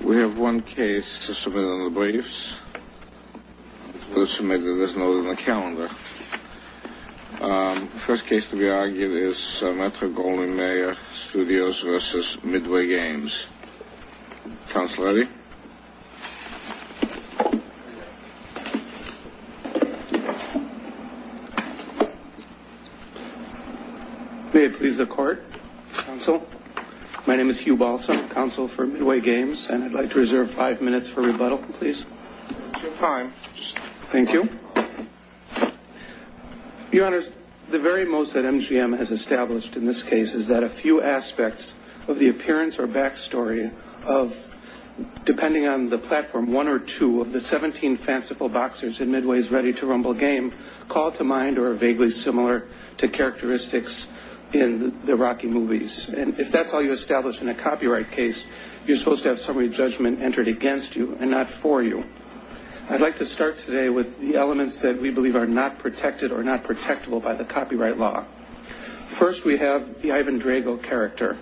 We have one case to submit under the briefs, to be submitted as noted in the calendar. The first case to be argued is Metro Golden Bay Studios v. Midway Games. May I please the court, counsel? My name is Hugh Balsam, counsel for Midway Games, and I'd like to reserve five minutes for rebuttal, please. Thank you. Your Honor, the very most that MGM has established in this case is that a few aspects of the appearance or backstory of, depending on the platform, one or two of the 17 fanciful boxers in Midway's ready to rumble game call to mind or are vaguely similar to characteristics in the Rocky movies. And if that's how you establish in a copyright case, you're supposed to have somebody's judgment entered against you and not for you. I'd like to start today with the elements that we believe are not protected or not protectable by the copyright law. First, we have the Ivan Drago character.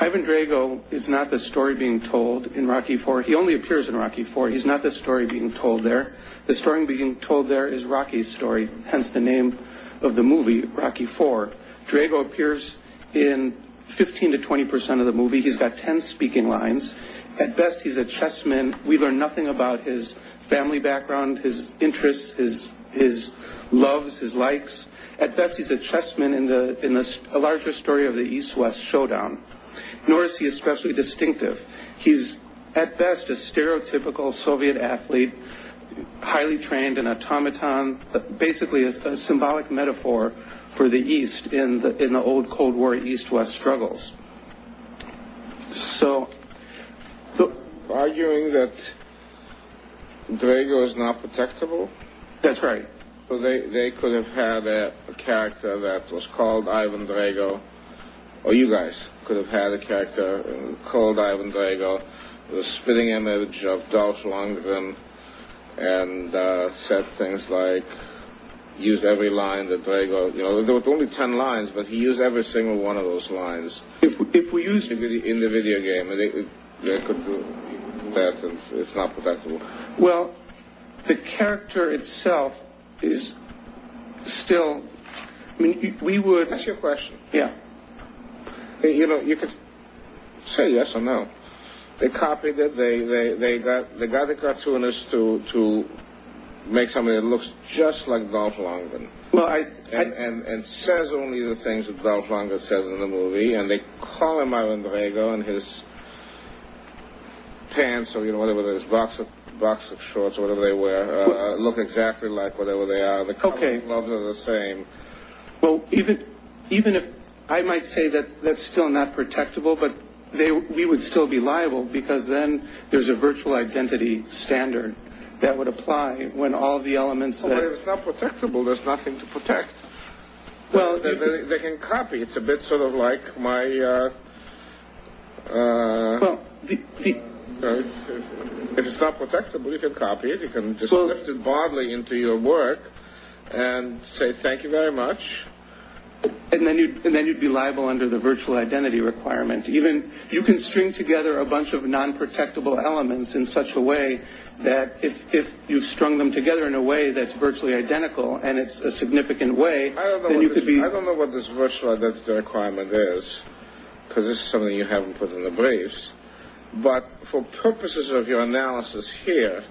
Ivan Drago is not the story being told in Rocky IV. He only appears in Rocky IV. He's not the story being told there. The story being told there is Rocky's story, hence the name of the movie, Rocky IV. Drago appears in 15 to 20 percent of the movie. He's got 10 speaking lines. At best, he's a chessman. We learn nothing about his family background, his interests, his loves, his likes. At best, he's a chessman in a larger story of the East-West showdown. Nor is he especially distinctive. He's, at best, a stereotypical Soviet athlete, highly trained in automaton, basically a symbolic metaphor for the East in the old Cold War East-West struggles. So, arguing that Drago is not protectable? That's right. They could have had a character that was called Ivan Drago, or you guys could have had a character called Ivan Drago, the spitting image of Dolph Lundgren, and said things like, use every line that Drago, you know, there were only 10 lines, but he used every single one of those lines in the video game. It's not protectable. Well, the character itself is still, I mean, we would... That's your question. Yeah. You know, you could say yes or no. They copied it. They got the cartoonists to make somebody that looks just like Dolph Lundgren and says only the things that Dolph Lundgren says in the movie. And they call him Ivan Drago and his pants or whatever, his box of shorts, whatever they wear, look exactly like whatever they are. The color of the gloves are the same. Well, even if... I might say that's still not protectable, but we would still be liable because then there's a virtual identity standard that would apply when all the elements that... If it's not protectable, you can copy it. You can just lift it bodily into your work and say, thank you very much. And then you'd be liable under the virtual identity requirement. You can string together a bunch of non-protectable elements in such a way that if you strung them together in a way that's virtually identical and it's a significant way, then you could be... Because this is something you haven't put in the briefs. But for purposes of your analysis here,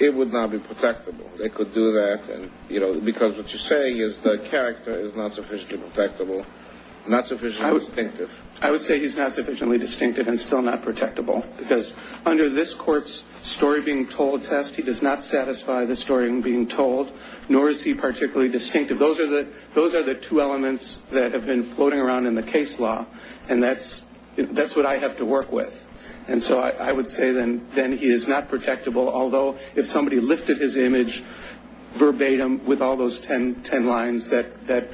it would not be protectable. They could do that because what you're saying is the character is not sufficiently protectable, not sufficiently distinctive. I would say he's not sufficiently distinctive and still not protectable because under this court's story being told test, he does not satisfy the story being told, nor is he particularly distinctive. Those are the two elements that have been floating around in the case law, and that's what I have to work with. And so I would say then he is not protectable, although if somebody lifted his image verbatim with all those 10 lines, that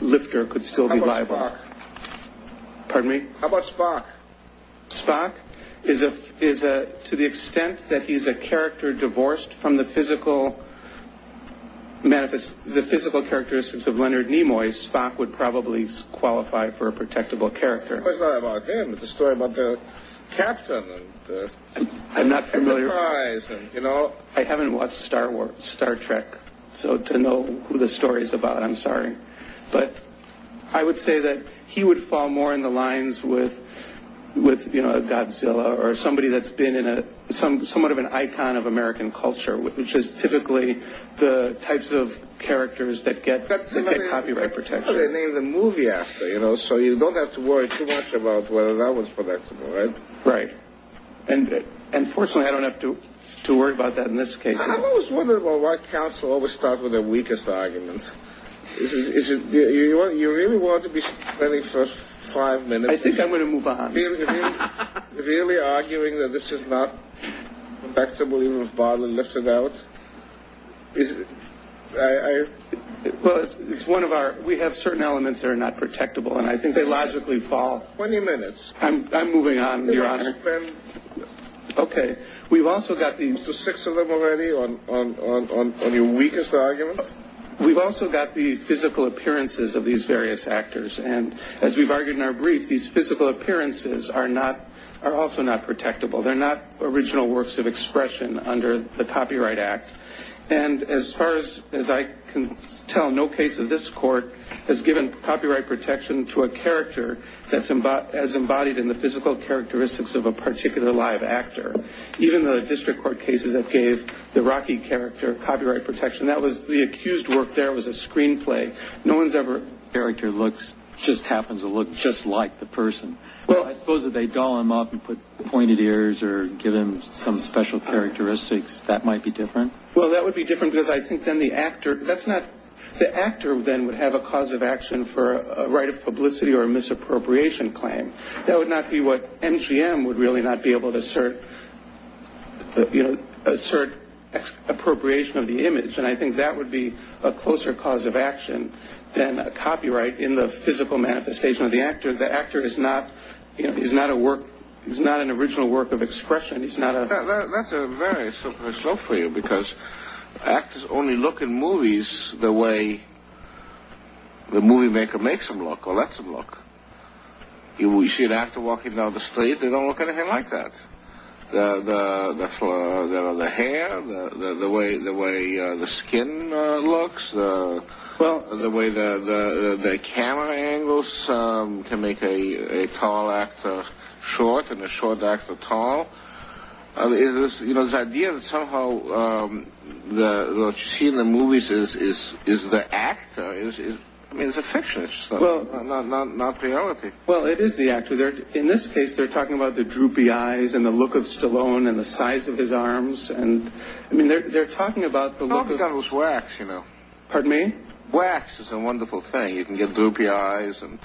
lifter could still be liable. Pardon me? How about Spock? Spock? To the extent that he's a character divorced from the physical characteristics of Leonard Nimoy, Spock would probably qualify for a protectable character. Well, it's not about him. It's a story about the captain and the surprise. I haven't watched Star Trek, so to know who the story is about, I'm sorry. But I would say that he would fall more in the lines with a Godzilla or somebody that's been somewhat of an icon of American culture, which is typically the types of characters that get copyright protection. They name the movie after, so you don't have to worry too much about whether that was protectable. Right. And unfortunately, I don't have to worry about that in this case. I've always wondered why counsel always start with the weakest argument. Is it you really want to be spending the first five minutes? I think I'm going to move on. Are you really arguing that this is not protectable even if Barlow lifts it out? Well, it's one of our, we have certain elements that are not protectable, and I think they logically fall. 20 minutes. I'm moving on, Your Honor. Okay. We've also got the... The six of them already on your weakest argument? We've also got the physical appearances of these various actors, and as we've argued in our brief, these physical appearances are also not protectable. They're not original works of expression under the Copyright Act. And as far as I can tell, no case of this court has given copyright protection to a character that's embodied in the physical characteristics of a particular live actor. Even the district court cases that gave the Rocky character copyright protection, that was the accused work there was a screenplay. No one's ever... Character looks, just happens to look just like the person. Well, I suppose if they doll him up and put pointed ears or give him some special characteristics, that might be different. Well, that would be different because I think then the actor, that's not... The actor then would have a cause of action for a right of publicity or a misappropriation claim. That would not be what MGM would really not be able to assert, you know, assert appropriation of the image. And I think that would be a closer cause of action than a copyright in the physical manifestation of the actor. The actor is not, you know, he's not a work, he's not an original work of expression. He's not a... That's a very superficial for you because actors only look in movies the way the movie maker makes them look or lets them look. You see an actor walking down the street, they don't look anything like that. The hair, the way the skin looks, the way the camera angles can make a tall actor short and a short actor tall. You know, the idea that somehow what you see in the movies is the actor, I mean, it's a fiction, it's not reality. Well, it is the actor. In this case, they're talking about the droopy eyes and the look of Stallone and the size of his arms. I mean, they're talking about the look of... Oh, but that was wax, you know. Pardon me? Wax is a wonderful thing. You can get droopy eyes and...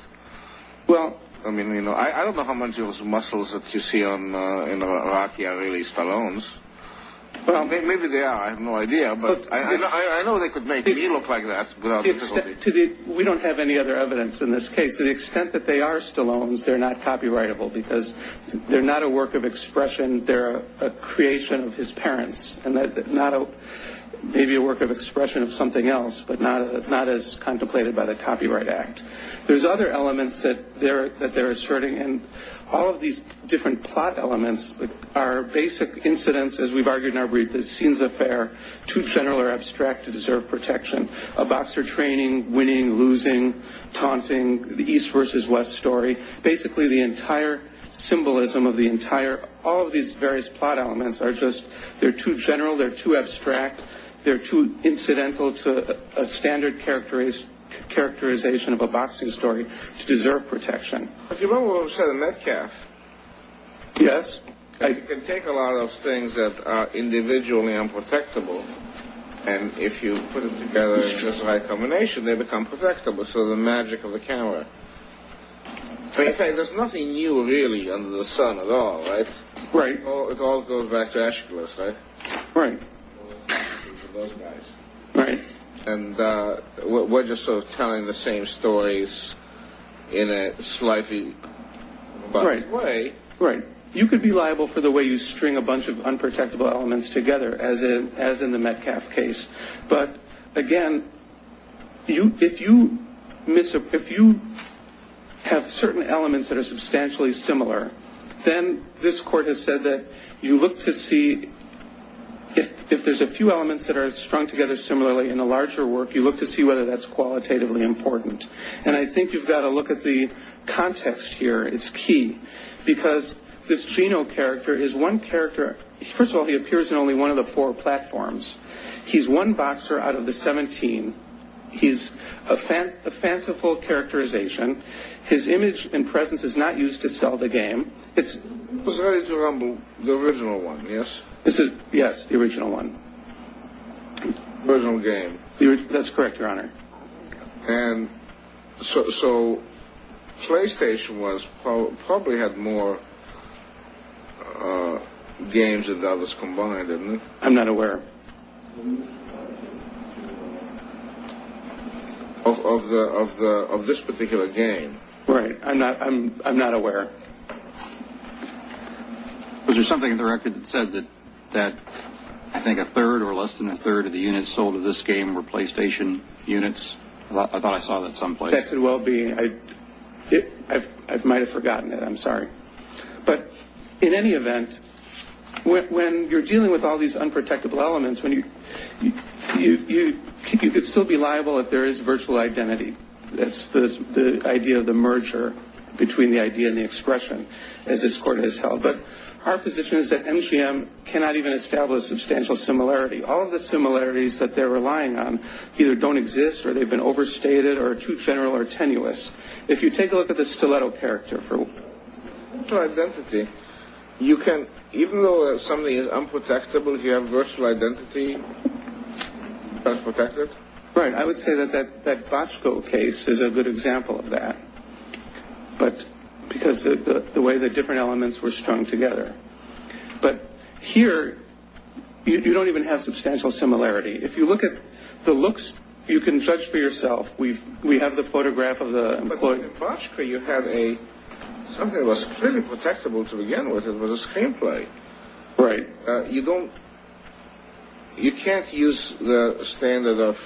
Well... I mean, you know, I don't know how much of those muscles that you see in Rocky are really Stallone's. Maybe they are, I have no idea, but I know they could make me look like that without difficulty. We don't have any other evidence in this case. To the extent that they are Stallone's, they're not copyrightable because they're not a work of expression, they're a creation of his parents. Maybe a work of expression of something else, but not as contemplated by the Copyright Act. There's other elements that they're asserting, and all of these different plot elements are basic incidents, as we've argued in our brief, too general or abstract to deserve protection. A boxer training, winning, losing, taunting, the East vs. West story, basically the entire symbolism of the entire... All of these various plot elements are just... They're too general, they're too abstract, they're too incidental to a standard characterization of a boxing story to deserve protection. But you remember what was said in Metcalf? Yes. You can take a lot of things that are individually unprotectable, and if you put them together in a high combination, they become protectable. It's the magic of the camera. There's nothing new, really, under the sun at all, right? Right. It all goes back to Aeschylus, right? Right. Those guys. Right. And we're just sort of telling the same stories in a slightly different way. Right. You could be liable for the way you string a bunch of unprotectable elements together, as in the Metcalf case. But, again, if you have certain elements that are substantially similar, then this court has said that you look to see... If there's a few elements that are strung together similarly in a larger work, you look to see whether that's qualitatively important. And I think you've got to look at the context here. It's key. Because this Geno character is one character... First of all, he appears in only one of the four platforms. He's one boxer out of the 17. He's a fanciful characterization. His image and presence is not used to sell the game. It's... It was ready to rumble, the original one, yes? Yes, the original one. Original game. That's correct, Your Honor. And so PlayStation probably had more games than the others combined, didn't it? I'm not aware. Of this particular game. Right. I'm not aware. Was there something in the record that said that I think a third or less than a third of the units sold of this game were PlayStation units? I thought I saw that someplace. That could well be. I might have forgotten it. I'm sorry. But in any event, when you're dealing with all these unprotectable elements, you could still be liable if there is virtual identity. That's the idea of the merger between the idea and the expression, as this court has held. But our position is that MGM cannot even establish substantial similarity. All of the similarities that they're relying on either don't exist or they've been overstated or too general or tenuous. If you take a look at the stiletto character for... Virtual identity. You can... Even though something is unprotectable, if you have virtual identity, it's unprotected? Right. I would say that that that Bosco case is a good example of that. But because of the way the different elements were strung together. But here you don't even have substantial similarity. If you look at the looks, you can judge for yourself. We we have the photograph of the employee. But in Bosco you have a... Something was clearly protectable to begin with. It was a screenplay. Right. You don't... You can't use the standard of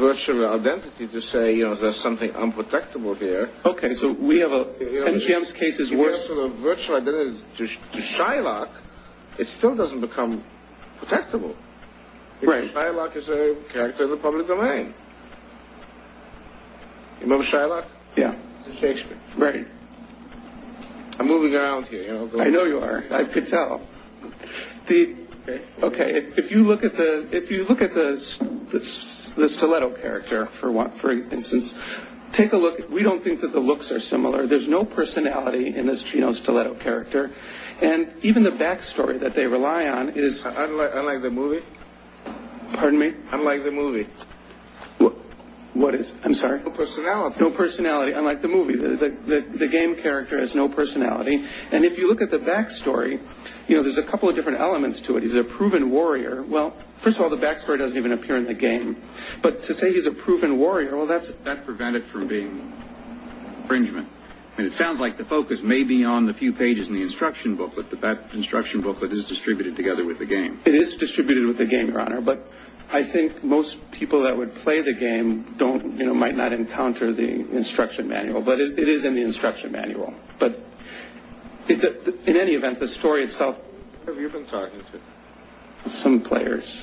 virtual identity to say, you know, there's something unprotectable here. OK, so we have a... MGM's case is worse. Virtual identity to Shylock. It still doesn't become protectable. Shylock is a character in the public domain. Remember Shylock? Yeah. Shakespeare. Right. I'm moving around here. I know you are. I could tell. OK. If you look at the stiletto character, for instance, take a look. We don't think that the looks are similar. There's no personality in this Geno stiletto character. And even the backstory that they rely on is... Unlike the movie? Pardon me? Unlike the movie. What is? I'm sorry? No personality. No personality. Unlike the movie. The game character has no personality. And if you look at the backstory, you know, there's a couple of different elements to it. He's a proven warrior. Well, first of all, the backstory doesn't even appear in the game. But to say he's a proven warrior, well, that's... That prevented from being infringement. And it sounds like the focus may be on the few pages in the instruction booklet, but that instruction booklet is distributed together with the game. It is distributed with the game, Your Honor. But I think most people that would play the game don't, you know, might not encounter the instruction manual. But it is in the instruction manual. But in any event, the story itself... Who have you been talking to? Some players.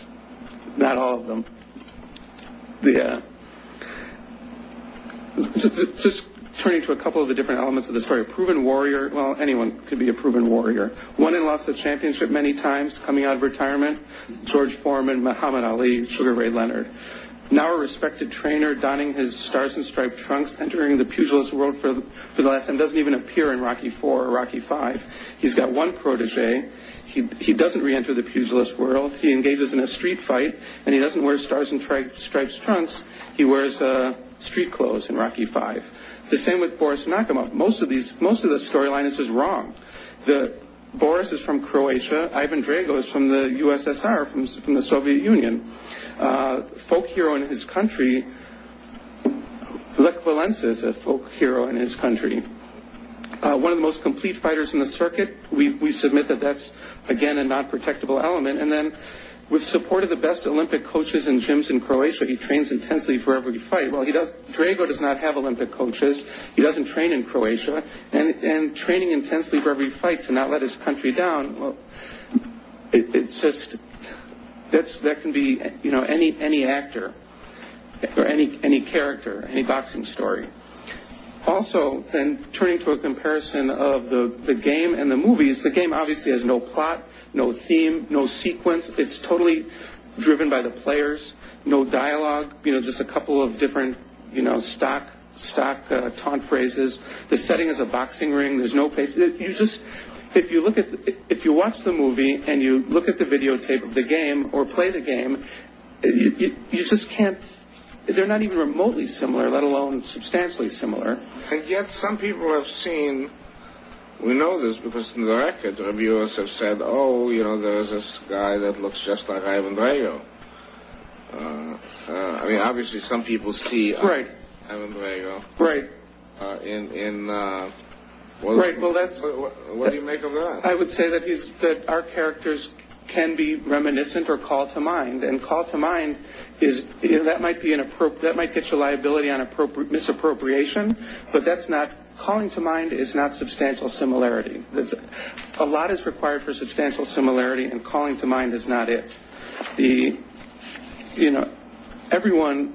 Not all of them. Yeah. Just turning to a couple of the different elements of the story. A proven warrior. Well, anyone could be a proven warrior. Won and lost the championship many times, coming out of retirement. George Foreman, Muhammad Ali, Sugar Ray Leonard. Now a respected trainer, donning his stars and striped trunks, entering the pugilist world for the last time, doesn't even appear in Rocky IV or Rocky V. He's got one protege. He doesn't reenter the pugilist world. He engages in a street fight, and he doesn't wear stars and striped trunks. He wears street clothes in Rocky V. The same with Boris Nakamov. Most of the storyline is just wrong. Boris is from Croatia. Ivan Drago is from the USSR, from the Soviet Union. Folk hero in his country. Lech Walesa is a folk hero in his country. One of the most complete fighters in the circuit. We submit that that's, again, a non-protectable element. And then, with support of the best Olympic coaches and gyms in Croatia, he trains intensely for every fight. Well, Drago does not have Olympic coaches. He doesn't train in Croatia. And training intensely for every fight to not let his country down. It's just, that can be any actor or any character, any boxing story. Also, turning to a comparison of the game and the movies, the game obviously has no plot, no theme, no sequence. It's totally driven by the players. No dialogue. Just a couple of different stock taunt phrases. The setting is a boxing ring. If you watch the movie and you look at the videotape of the game or play the game, you just can't... They're not even remotely similar, let alone substantially similar. And yet, some people have seen... We know this because in the records, reviewers have said, Oh, you know, there's this guy that looks just like Ivan Drago. I mean, obviously, some people see Ivan Drago. Right. Right, well, that's... What do you make of that? I would say that our characters can be reminiscent or call to mind. And call to mind is... That might get you a liability on misappropriation. But that's not... Calling to mind is not substantial similarity. A lot is required for substantial similarity, and calling to mind is not it. You know, everyone...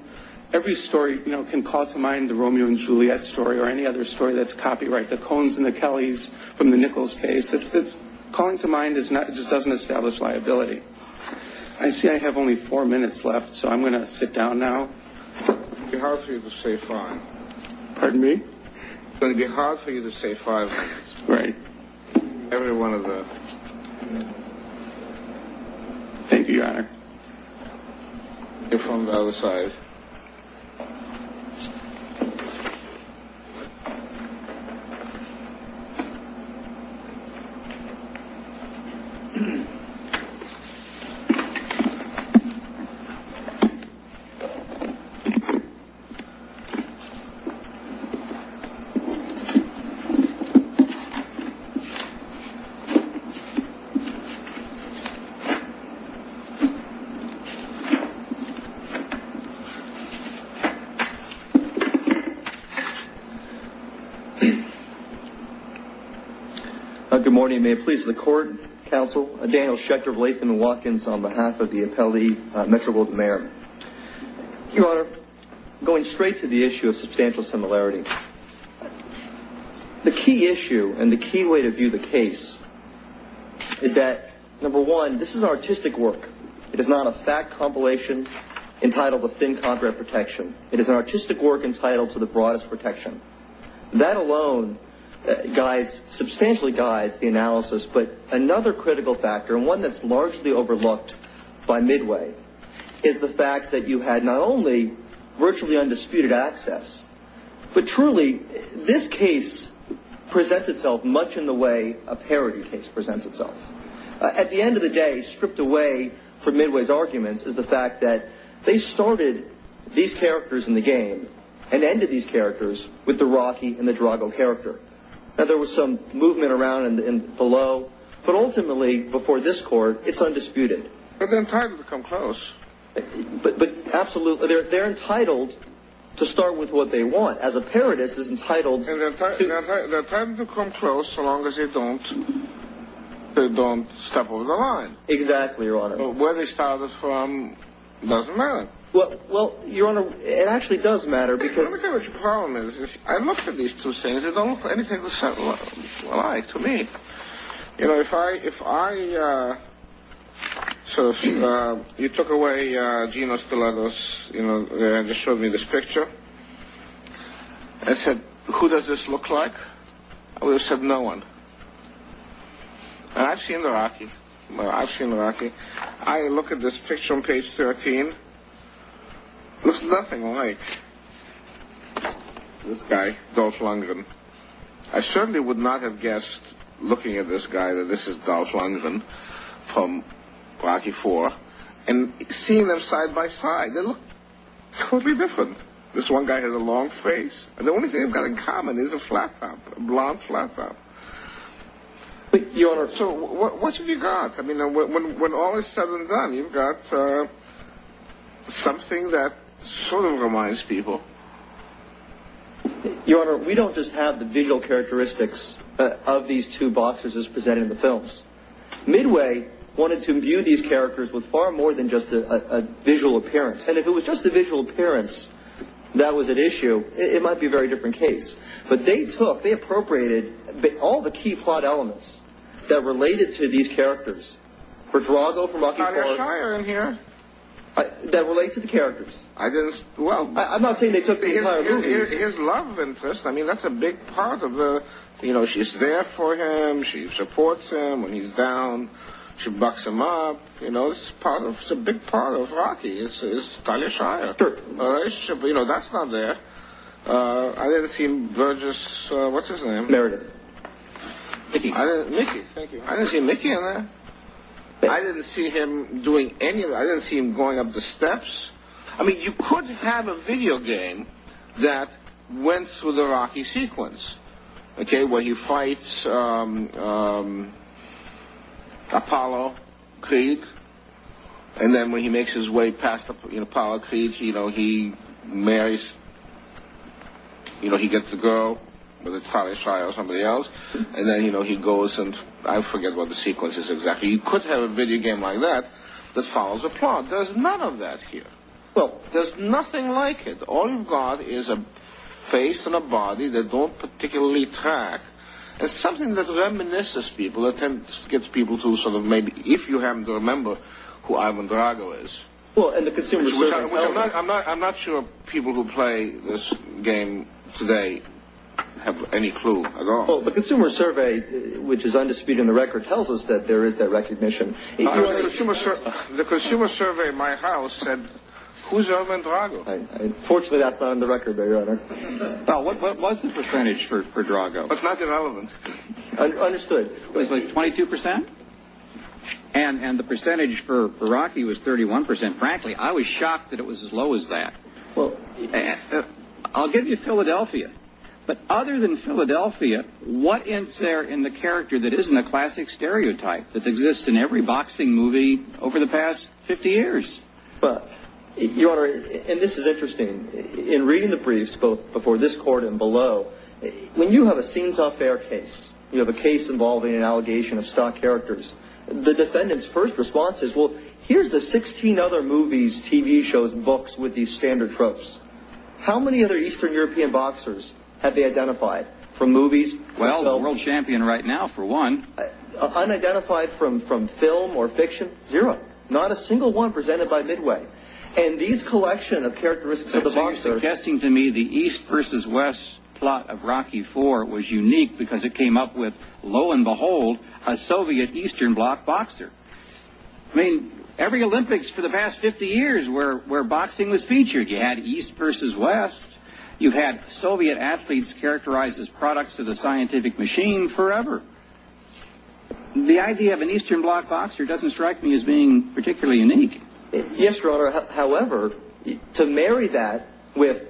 Every story can call to mind the Romeo and Juliet story or any other story that's copyright. The Coens and the Kellys from the Nichols case. Calling to mind just doesn't establish liability. I see I have only four minutes left, so I'm going to sit down now. It's going to be hard for you to say five. Pardon me? It's going to be hard for you to say five. Right. Every one of the... Thank you, Your Honor. You're from the other side. Thank you. Good morning. May it please the court, counsel, Daniel Schechter of Latham & Watkins on behalf of the appellee, Metropolitan Mayor. Your Honor, I'm going straight to the issue of substantial similarity. The key issue and the key way to view the case is that, number one, this is artistic work. It is not a fact compilation entitled to thin contract protection. It is an artistic work entitled to the broadest protection. That alone substantially guides the analysis, but another critical factor, and one that's largely overlooked by Midway, is the fact that you had not only virtually undisputed access, but truly this case presents itself much in the way a parody case presents itself. At the end of the day, stripped away from Midway's arguments is the fact that they started these characters in the game and ended these characters with the Rocky and the Drago character. Now, there was some movement around and below, but ultimately, before this court, it's undisputed. But they're entitled to come close. But absolutely, they're entitled to start with what they want. As a parodist, it's entitled... They're entitled to come close so long as they don't step over the line. Exactly, Your Honor. Where they started from doesn't matter. Well, Your Honor, it actually does matter because... Let me tell you what your problem is. If I look at these two scenes, they don't look anything alike to me. You know, if I... So, if you took away Geno Stilettos, you know, and just showed me this picture, and said, who does this look like? I would have said no one. And I've seen the Rocky. I've seen the Rocky. I look at this picture on page 13. It's nothing like this guy, Dolph Lundgren. I certainly would not have guessed, looking at this guy, that this is Dolph Lundgren from Rocky IV. And seeing them side by side, they look totally different. This one guy has a long face. And the only thing they've got in common is a flat top, a blonde flat top. But, Your Honor... So, what have you got? I mean, when all is said and done, you've got something that sort of reminds people. Your Honor, we don't just have the visual characteristics of these two boxers as presented in the films. Midway wanted to view these characters with far more than just a visual appearance. And if it was just the visual appearance that was at issue, it might be a very different case. But they took, they appropriated all the key plot elements that related to these characters, for Drago, for Rocky IV, that relate to the characters. I'm not saying they took the entire movie. It's his love interest. I mean, that's a big part of the... You know, she's there for him. She supports him when he's down. She bucks him up. You know, it's a big part of Rocky. It's Talia Shire. Sure. You know, that's not there. I didn't see Virgis... What's his name? Meredith. Mickey. Mickey, thank you. I didn't see Mickey in there. I didn't see him doing any... I didn't see him going up the steps. I mean, you could have a video game that went through the Rocky sequence, okay, where he fights Apollo Kreeg, and then when he makes his way past Apollo Kreeg, he marries, you know, he gets a girl, whether it's Talia Shire or somebody else, and then, you know, he goes and... I forget what the sequence is exactly. You could have a video game like that that follows a plot. There's none of that here. Well... There's nothing like it. All you've got is a face and a body that don't particularly track. It's something that reminisces people, attempts to get people to sort of maybe... If you happen to remember who Ivan Drago is... Well, and the Consumer Survey... I'm not sure people who play this game today have any clue at all. Well, the Consumer Survey, which is undisputed in the record, tells us that there is that recognition. The Consumer Survey at my house said, who's Ivan Drago? Fortunately, that's not in the record, Your Honor. Now, what was the percentage for Drago? That's not relevant. Understood. It was like 22%? And the percentage for Rocky was 31%. Frankly, I was shocked that it was as low as that. I'll give you Philadelphia. But other than Philadelphia, what is there in the character that isn't a classic stereotype that exists in every boxing movie over the past 50 years? Your Honor, and this is interesting, in reading the briefs, both before this court and below, when you have a scenes-off-air case, you have a case involving an allegation of stock characters, the defendant's first response is, well, here's the 16 other movies, TV shows, books with these standard tropes. How many other Eastern European boxers have they identified from movies? Well, the world champion right now, for one. Unidentified from film or fiction? Zero. Not a single one presented by Midway. And these collection of characteristics of the boxer... It's interesting to me the East versus West plot of Rocky IV was unique because it came up with, lo and behold, a Soviet Eastern block boxer. I mean, every Olympics for the past 50 years where boxing was featured, you had East versus West, you had Soviet athletes characterized as products of the scientific machine forever. The idea of an Eastern block boxer doesn't strike me as being particularly unique. Yes, Your Honor. However, to marry that with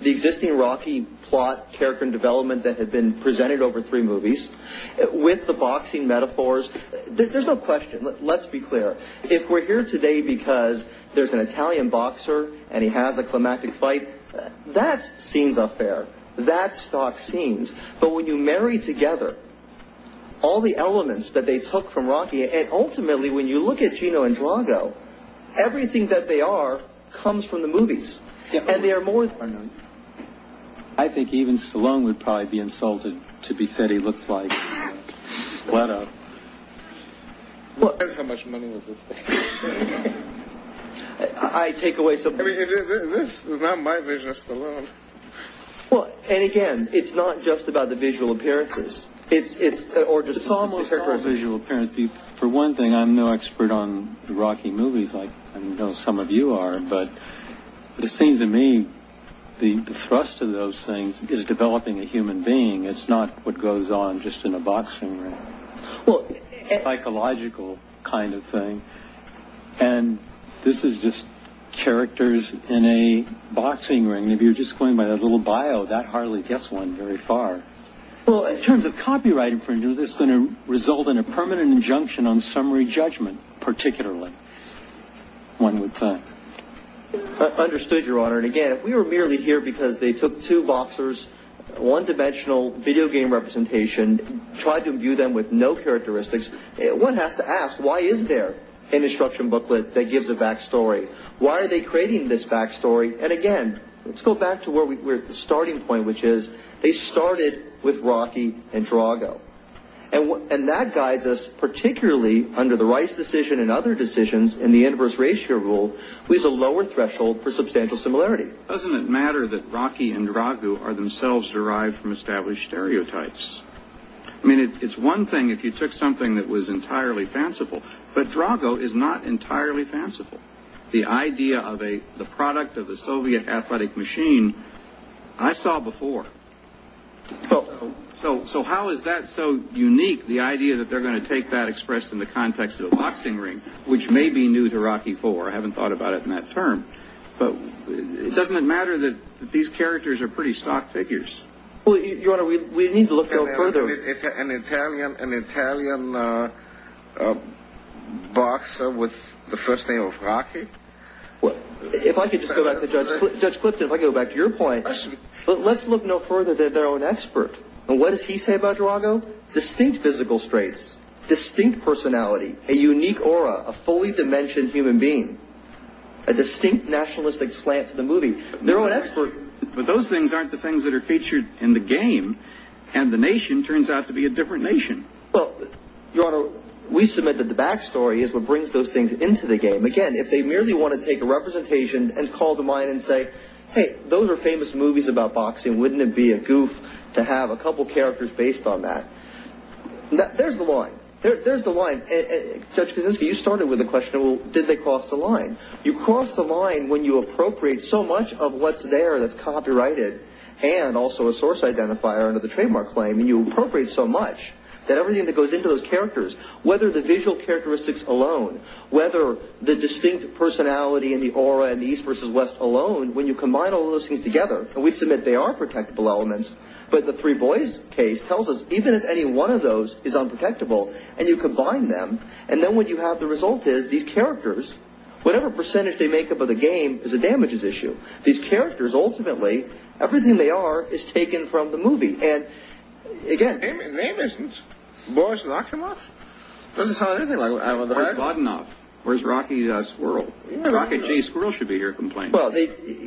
the existing Rocky plot, character and development that had been presented over three movies, with the boxing metaphors, there's no question, let's be clear. If we're here today because there's an Italian boxer and he has a climactic fight, that's scenes up there. That's stock scenes. But when you marry together all the elements that they took from Rocky, and ultimately when you look at Gino Andrago, everything that they are comes from the movies. And they are more than that. I think even Salone would probably be insulted to be said he looks like. What a... How much money was this thing? I take away some... This is not my vision of Salone. Well, and again, it's not just about the visual appearances. It's almost... For one thing, I'm no expert on Rocky movies like I know some of you are, but it seems to me the thrust of those things is developing a human being. It's not what goes on just in a boxing ring. Well... Psychological kind of thing. And this is just characters in a boxing ring. If you're just going by that little bio, that hardly gets one very far. Well, in terms of copyright infringement, this is going to result in a permanent injunction on summary judgment, particularly. One would think. Understood, Your Honor. And again, if we were merely here because they took two boxers, one-dimensional video game representation, tried to view them with no characteristics, one has to ask, why is there an instruction booklet that gives a backstory? Why are they creating this backstory? And again, let's go back to where we were at the starting point, which is they started with Rocky and Drago. And that guides us, particularly under the rights decision and other decisions in the inverse ratio rule, with a lower threshold for substantial similarity. Doesn't it matter that Rocky and Drago are themselves derived from established stereotypes? I mean, it's one thing if you took something that was entirely fanciful, but Drago is not entirely fanciful. The idea of the product of the Soviet athletic machine, I saw before. So how is that so unique, the idea that they're going to take that expressed in the context of a boxing ring, which may be new to Rocky IV. I haven't thought about it in that term. But it doesn't matter that these characters are pretty stock figures. Your Honor, we need to look no further. An Italian boxer with the first name of Rocky? If I could just go back to Judge Clifton, if I could go back to your point. But let's look no further than their own expert. And what does he say about Drago? Distinct physical traits, distinct personality, a unique aura, a fully dimensioned human being, a distinct nationalistic slant to the movie. But those things aren't the things that are featured in the game. And the nation turns out to be a different nation. Your Honor, we submit that the backstory is what brings those things into the game. Again, if they merely want to take a representation and call to mind and say, hey, those are famous movies about boxing, wouldn't it be a goof to have a couple of characters based on that? There's the line. Judge Kaczynski, you started with the question, did they cross the line? You cross the line when you appropriate so much of what's there that's copyrighted and also a source identifier under the trademark claim, and you appropriate so much that everything that goes into those characters, whether the visual characteristics alone, whether the distinct personality and the aura and the East versus West alone, when you combine all those things together, and we submit they are protectable elements, but the three boys case tells us even if any one of those is unprotectable and you combine them, and then what you have the result is these characters, whatever percentage they make up of the game is a damages issue. These characters, ultimately, everything they are is taken from the movie. And, again... Name isn't? Boris Rakhimov? Doesn't sound anything like... Boris Vodunov. Where's Rocky Squirrel? Rocky G. Squirrel should be here complaining.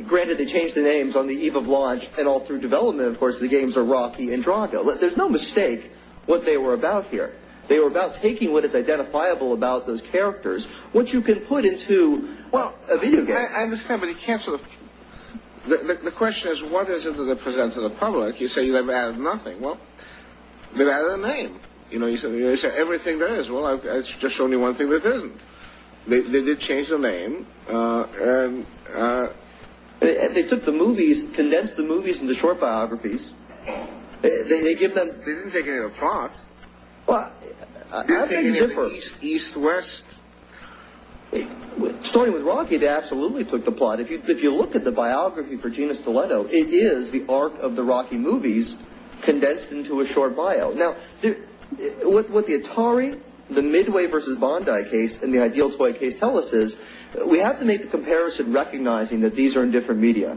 Granted, they changed the names on the eve of launch, and all through development, of course, the games are Rocky and Drago. There's no mistake what they were about here. They were about taking what is identifiable about those characters, what you can put into a video game. I understand, but you can't sort of... The question is what is it that they present to the public. You say they've added nothing. Well, they've added a name. You know, you say everything there is. Well, I've just shown you one thing that isn't. They did change the name. And they took the movies, condensed the movies into short biographies. They didn't take any of the plot. Well, how can you differ? East, west. Starting with Rocky, they absolutely took the plot. If you look at the biography for Gina Stiletto, it is the arc of the Rocky movies condensed into a short bio. Now, what the Atari, the Midway v. Bondi case, and the Ideal Toy case tell us is we have to make the comparison recognizing that these are in different media.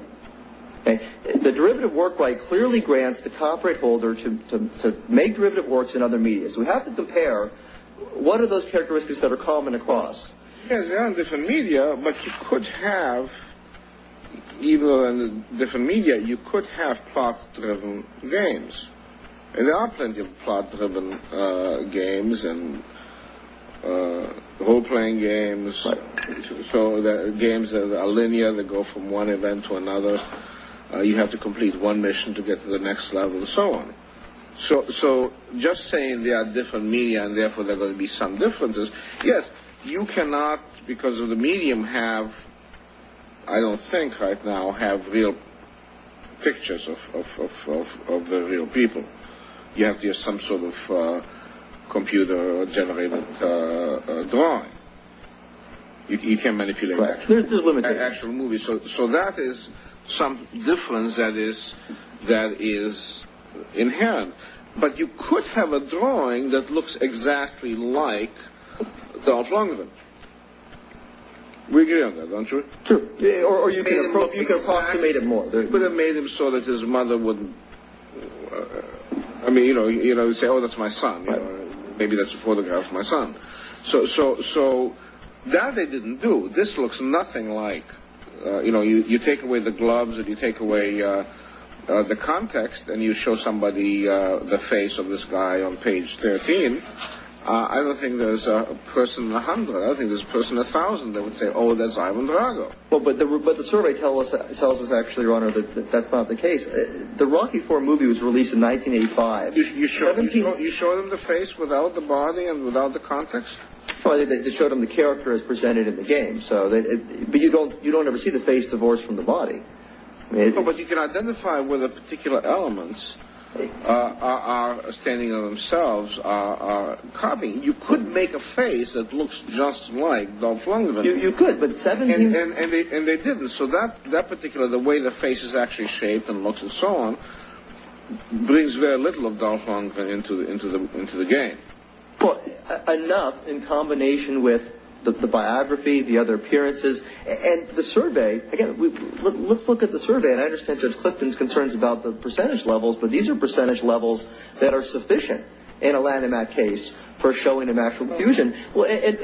The derivative work right clearly grants the copyright holder to make derivative works in other media. So we have to compare what are those characteristics that are common across. Yes, they are in different media, but you could have, even though they're in different media, you could have plot-driven games. And there are plenty of plot-driven games and role-playing games. So the games are linear. They go from one event to another. You have to complete one mission to get to the next level and so on. So just saying they are different media and therefore there are going to be some differences, yes, you cannot, because of the medium, have, I don't think right now, have real pictures of the real people. You have to have some sort of computer-generated drawing. You can't manipulate that. So that is some difference that is inherent. But you could have a drawing that looks exactly like Donald Trump. We agree on that, don't we? Sure. Or you could approximate him more. You could have made him so that his mother wouldn't, I mean, you know, say, oh, that's my son. Maybe that's a photograph of my son. So that they didn't do. This looks nothing like, you know, you take away the gloves and you take away the context and you show somebody the face of this guy on page 13. I don't think there's a person a hundred. I don't think there's a person a thousand that would say, oh, that's Ivan Drago. But the survey tells us actually, Your Honor, that that's not the case. The Rocky IV movie was released in 1985. You show them the face without the body and without the context? You show them the character as presented in the game. But you don't ever see the face divorced from the body. But you can identify where the particular elements are standing on themselves, are coming. You could make a face that looks just like Donald Trump. You could. And they didn't. So that particular, the way the face is actually shaped and looks and so on, brings very little of Donald Trump into the game. Enough in combination with the biography, the other appearances, and the survey. Again, let's look at the survey. And I understand Judge Clifton's concerns about the percentage levels, but these are percentage levels that are sufficient in a Lanham Act case for showing an actual fusion. This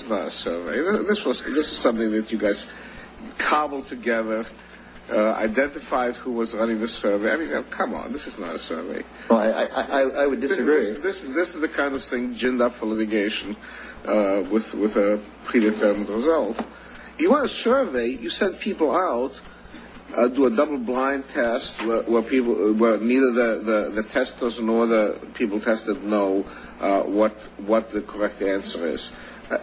was not a survey. This is something that you guys cobbled together, identified who was running the survey. I mean, come on, this is not a survey. I would disagree. This is the kind of thing ginned up for litigation with a predetermined result. You want a survey, you send people out, do a double-blind test where neither the testers nor the people tested know what the correct answer is.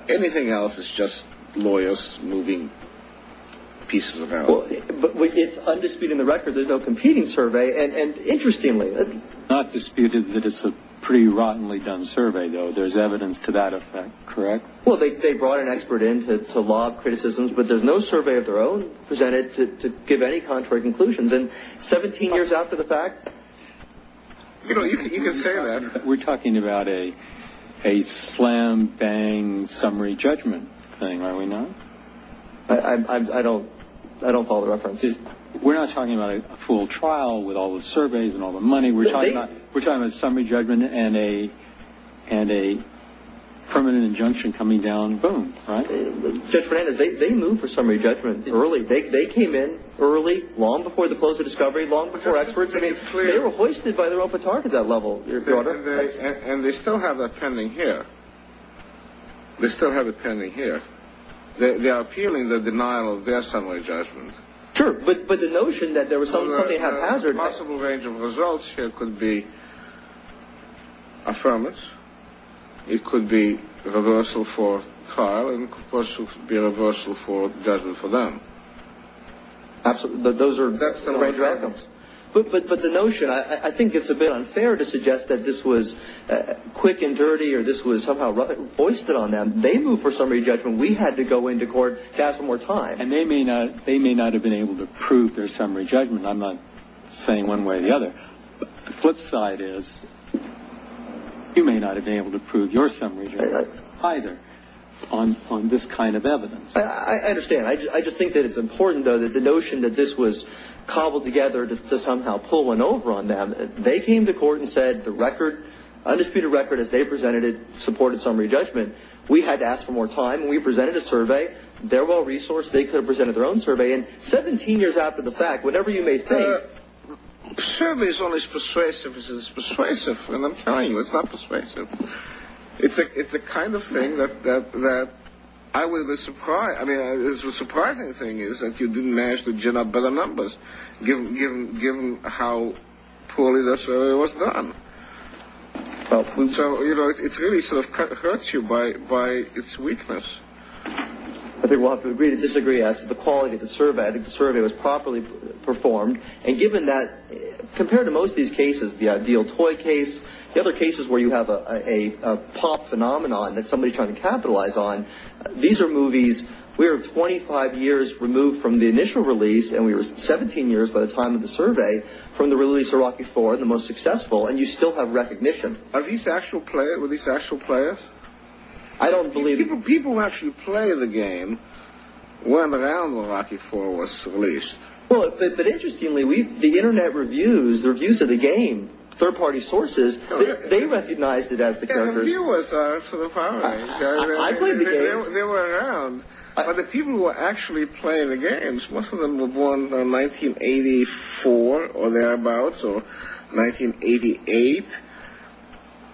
Anything else is just lawyers moving pieces of paper. But it's, I'm disputing the record, there's no competing survey. And interestingly— It's not disputed that it's a pretty rottenly done survey, though. There's evidence to that effect, correct? Well, they brought an expert in to lob criticisms, but there's no survey of their own presented to give any contrary conclusions. And 17 years after the fact— You know, you can say that. We're talking about a slam-bang summary judgment thing, are we not? I don't follow the references. We're not talking about a full trial with all the surveys and all the money. We're talking about a summary judgment and a permanent injunction coming down, boom, right? Judge Fernandez, they moved for summary judgment early. They came in early, long before the close of Discovery, long before experts. I mean, they were hoisted by their own petard at that level, Your Honor. And they still have that pending here. They still have it pending here. They are appealing the denial of their summary judgment. Sure, but the notion that there was something haphazard— A possible range of results here could be affirmance. It could be reversal for trial, and it could also be reversal for judgment for them. Absolutely, but those are— That's the way it happens. But the notion—I think it's a bit unfair to suggest that this was quick and dirty or this was somehow hoisted on them. They moved for summary judgment. We had to go into court to ask for more time. And they may not have been able to prove their summary judgment. I'm not saying one way or the other. The flip side is you may not have been able to prove your summary judgment either on this kind of evidence. I understand. I just think that it's important, though, that the notion that this was cobbled together to somehow pull one over on them. They came to court and said the record, undisputed record as they presented it, supported summary judgment. We had to ask for more time, and we presented a survey. They're well-resourced. They could have presented their own survey. And 17 years after the fact, whatever you may think— Survey is always persuasive. It's persuasive. And I'm telling you, it's not persuasive. It's the kind of thing that I would be surprised— I mean, the surprising thing is that you didn't manage to gin up better numbers, given how poorly the survey was done. So, you know, it really sort of hurts you by its weakness. I think we'll have to agree to disagree as to the quality of the survey. I think the survey was properly performed. And given that, compared to most of these cases, the ideal toy case, the other cases where you have a pop phenomenon that somebody's trying to capitalize on, these are movies—we were 25 years removed from the initial release, and we were 17 years by the time of the survey, from the release of Rocky IV, the most successful. And you still have recognition. Are these actual players? I don't believe— People who actually play the game weren't around when Rocky IV was released. Well, but interestingly, the Internet reviews, the reviews of the game, third-party sources, they recognized it as the characters— And the viewers are sort of— I played the game. They were around. But the people who were actually playing the games, most of them were born in 1984 or thereabouts, or 1988.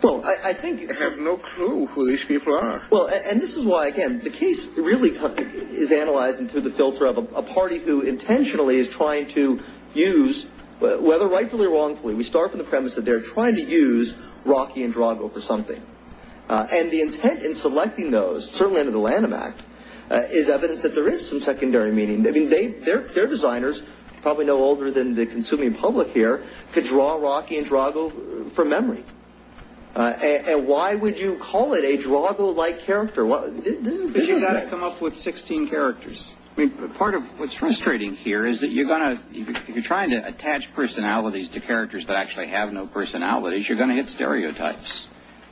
Well, I think— I have no clue who these people are. Well, and this is why, again, the case really is analyzed through the filter of a party who intentionally is trying to use, whether rightfully or wrongfully, we start from the premise that they're trying to use Rocky and Drago for something. And the intent in selecting those, certainly under the Lanham Act, is evidence that there is some secondary meaning. Their designers, probably no older than the consuming public here, could draw Rocky and Drago from memory. And why would you call it a Drago-like character? Because you've got to come up with 16 characters. Part of what's frustrating here is that you're going to— if you're trying to attach personalities to characters that actually have no personalities, you're going to hit stereotypes.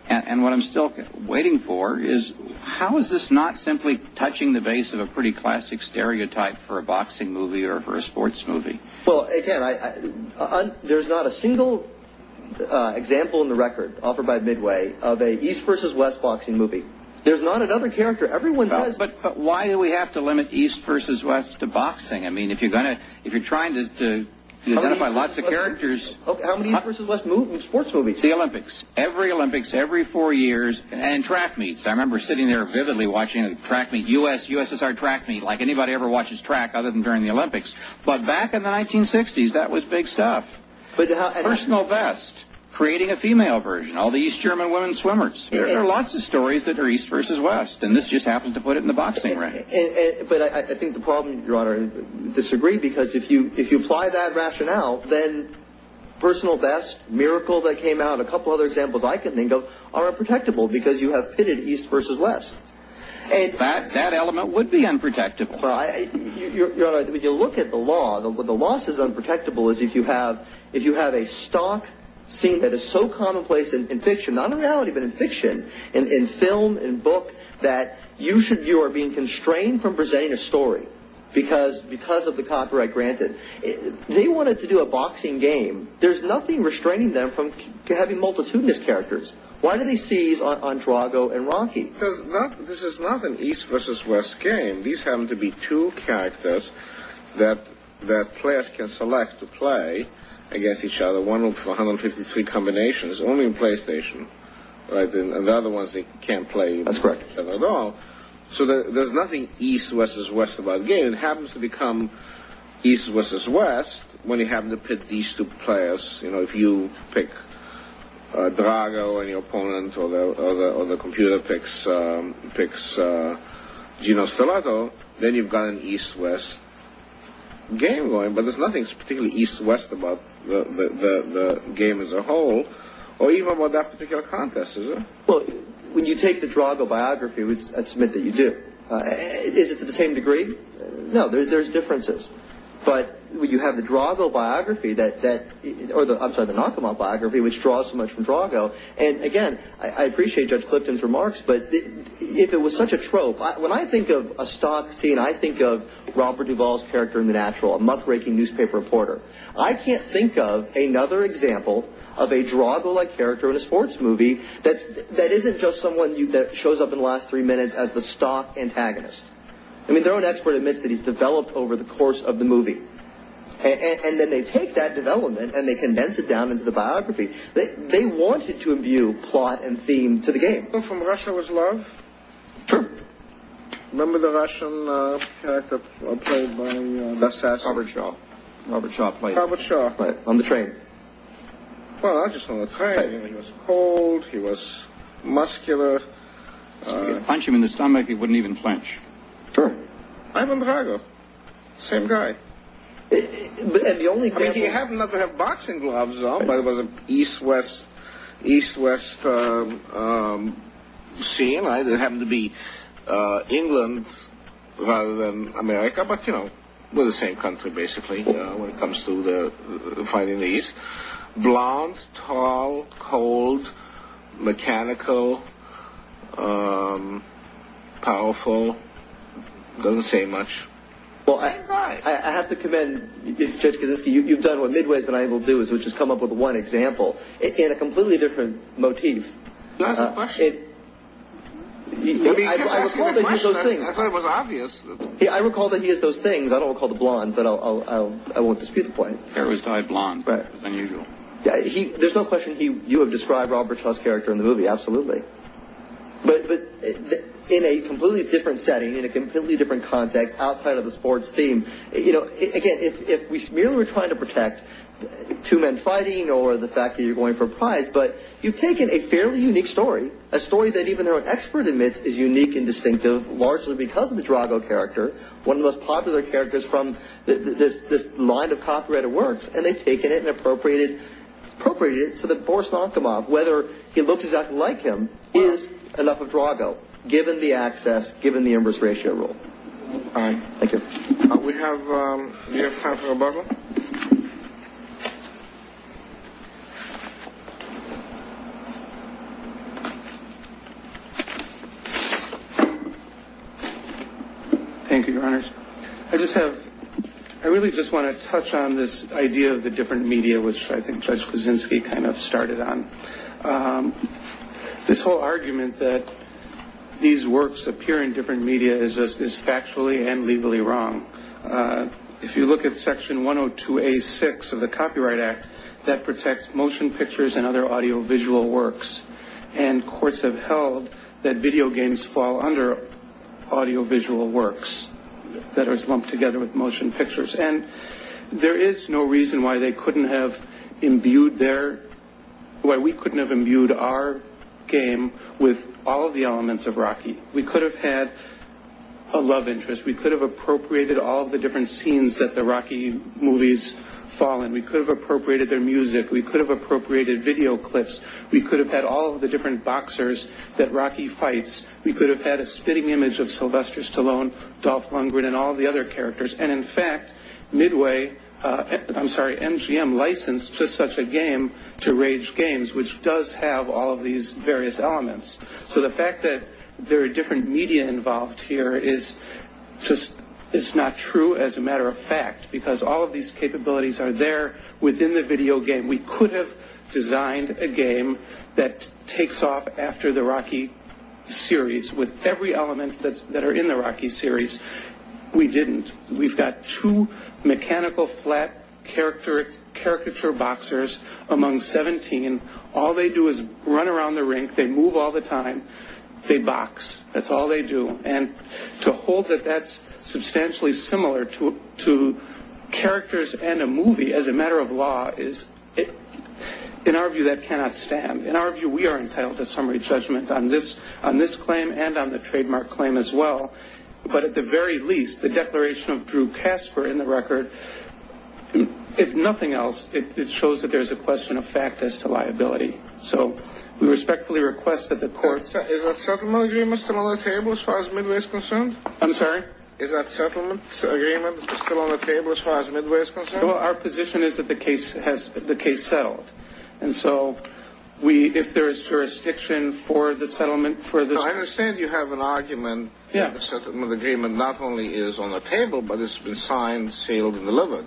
And what I'm still waiting for is, how is this not simply touching the base of a pretty classic stereotype for a boxing movie or for a sports movie? Well, again, there's not a single example in the record offered by Midway of an East versus West boxing movie. There's not another character. Everyone says— But why do we have to limit East versus West to boxing? I mean, if you're trying to identify lots of characters— How many East versus West sports movies? The Olympics. Every Olympics, every four years. And track meets. I remember sitting there vividly watching a track meet. U.S.S.R. track meet, like anybody ever watches track other than during the Olympics. But back in the 1960s, that was big stuff. Personal best. Creating a female version. All the East German women swimmers. There are lots of stories that are East versus West, and this just happened to put it in the boxing record. But I think the problem, Your Honor, I disagree, because if you apply that rationale, then personal best, Miracle that came out, a couple other examples I can think of, are unprotectable because you have pitted East versus West. That element would be unprotectable. Your Honor, if you look at the law, the law says unprotectable is if you have a stock scene that is so commonplace in fiction, not in reality, but in fiction, in film, in book, that you are being constrained from presenting a story because of the copyright granted. They wanted to do a boxing game. There's nothing restraining them from having multitudinous characters. Why do they seize on Drago and Rocky? Because this is not an East versus West game. These happen to be two characters that players can select to play against each other. One of 153 combinations, only in PlayStation. And the other ones they can't play at all. So there's nothing East versus West about the game. It happens to become East versus West when you have to pit these two players. If you pick Drago and your opponent or the computer picks Gino Stellato, then you've got an East-West game going. But there's nothing particularly East-West about the game as a whole or even about that particular contest, is there? Well, when you take the Drago biography, which I'd submit that you do, is it to the same degree? No, there's differences. But when you have the Drago biography, or I'm sorry, the Nakamot biography, which draws so much from Drago, and again, I appreciate Judge Clifton's remarks, but if it was such a trope, when I think of a stock scene, I think of Robert Duvall's character in The Natural, a muckraking newspaper reporter. I can't think of another example of a Drago-like character in a sports movie that isn't just someone that shows up in the last three minutes as the stock antagonist. I mean, their own expert admits that he's developed over the course of the movie. And then they take that development and they condense it down into the biography. They wanted to imbue plot and theme to the game. The one from Russia was Love? Sure. Remember the Russian character played by... That's Robert Shaw. Robert Shaw played him. Robert Shaw. On the train. Well, not just on the train. He was cold, he was muscular. If you could punch him in the stomach, he wouldn't even flinch. Sure. Ivan Drago. Same guy. And the only thing... I mean, he happened not to have boxing gloves at all, but it was an east-west scene. It happened to be England rather than America, but you know, we're the same country, basically, when it comes to fighting the east. Blonde, tall, cold, mechanical, powerful. Doesn't say much. Same guy. I have to commend you, Judge Kaczynski. You've done what Midway's been able to do, which is come up with one example in a completely different motif. That's a question. I recall that he has those things. I thought it was obvious. Yeah, I recall that he has those things. I don't recall the blonde, but I won't dispute the point. Hair was tied blonde. Right. It was unusual. There's no question you have described Robert Shaw's character in the movie. Absolutely. But in a completely different setting, in a completely different context, outside of the sports theme, you know, again, if merely we're trying to protect two men fighting or the fact that you're going for a prize, but you've taken a fairly unique story, a story that even our expert admits is unique and distinctive, largely because of the Drago character, one of the most popular characters from this line of copyrighted works, and they've taken it and appropriated it so that Boris Lankomov, whether he looks exactly like him, is enough of Drago, given the access, given the inverse ratio rule. All right. Thank you. We have Councilor Butler. Thank you, Your Honors. I really just want to touch on this idea of the different media, which I think Judge Kuczynski kind of started on. This whole argument that these works appear in different media is factually and legally wrong. If you look at Section 102A6 of the Copyright Act, that protects motion pictures and other audiovisual works, and courts have held that video games fall under audiovisual works that are lumped together with motion pictures. And there is no reason why they couldn't have imbued their – why we couldn't have imbued our game with all of the elements of Rocky. We could have had a love interest. We could have appropriated all of the different scenes that the Rocky movies fall in. We could have appropriated their music. We could have appropriated video clips. We could have had all of the different boxers that Rocky fights. We could have had a spitting image of Sylvester Stallone, Dolph Lundgren, and all of the other characters. And, in fact, Midway – I'm sorry, MGM licensed just such a game to Rage Games, which does have all of these various elements. So the fact that there are different media involved here is just – it's not true as a matter of fact, because all of these capabilities are there within the video game. We could have designed a game that takes off after the Rocky series with every element that are in the Rocky series. We didn't. We've got two mechanical flat caricature boxers among 17. All they do is run around the rink. They move all the time. They box. That's all they do. And to hold that that's substantially similar to characters and a movie as a matter of law is – in our view, that cannot stand. In our view, we are entitled to summary judgment on this claim and on the trademark claim as well. But at the very least, the declaration of Drew Casper in the record, if nothing else, it shows that there's a question of fact as to liability. So we respectfully request that the court – Is that settlement agreement still on the table as far as Midway is concerned? I'm sorry? Is that settlement agreement still on the table as far as Midway is concerned? Our position is that the case settled. And so if there is jurisdiction for the settlement – I understand you have an argument that the settlement agreement not only is on the table, but it's been signed, sealed, and delivered.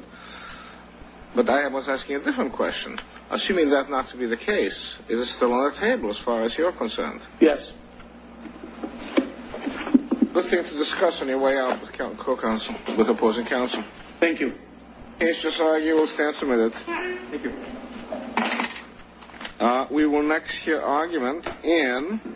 But I was asking a different question. Assuming that not to be the case, is it still on the table as far as you're concerned? Yes. Good thing to discuss on your way out with opposing counsel. Thank you. Case just argued. We'll stand for a minute. Thank you. We will next hear argument in –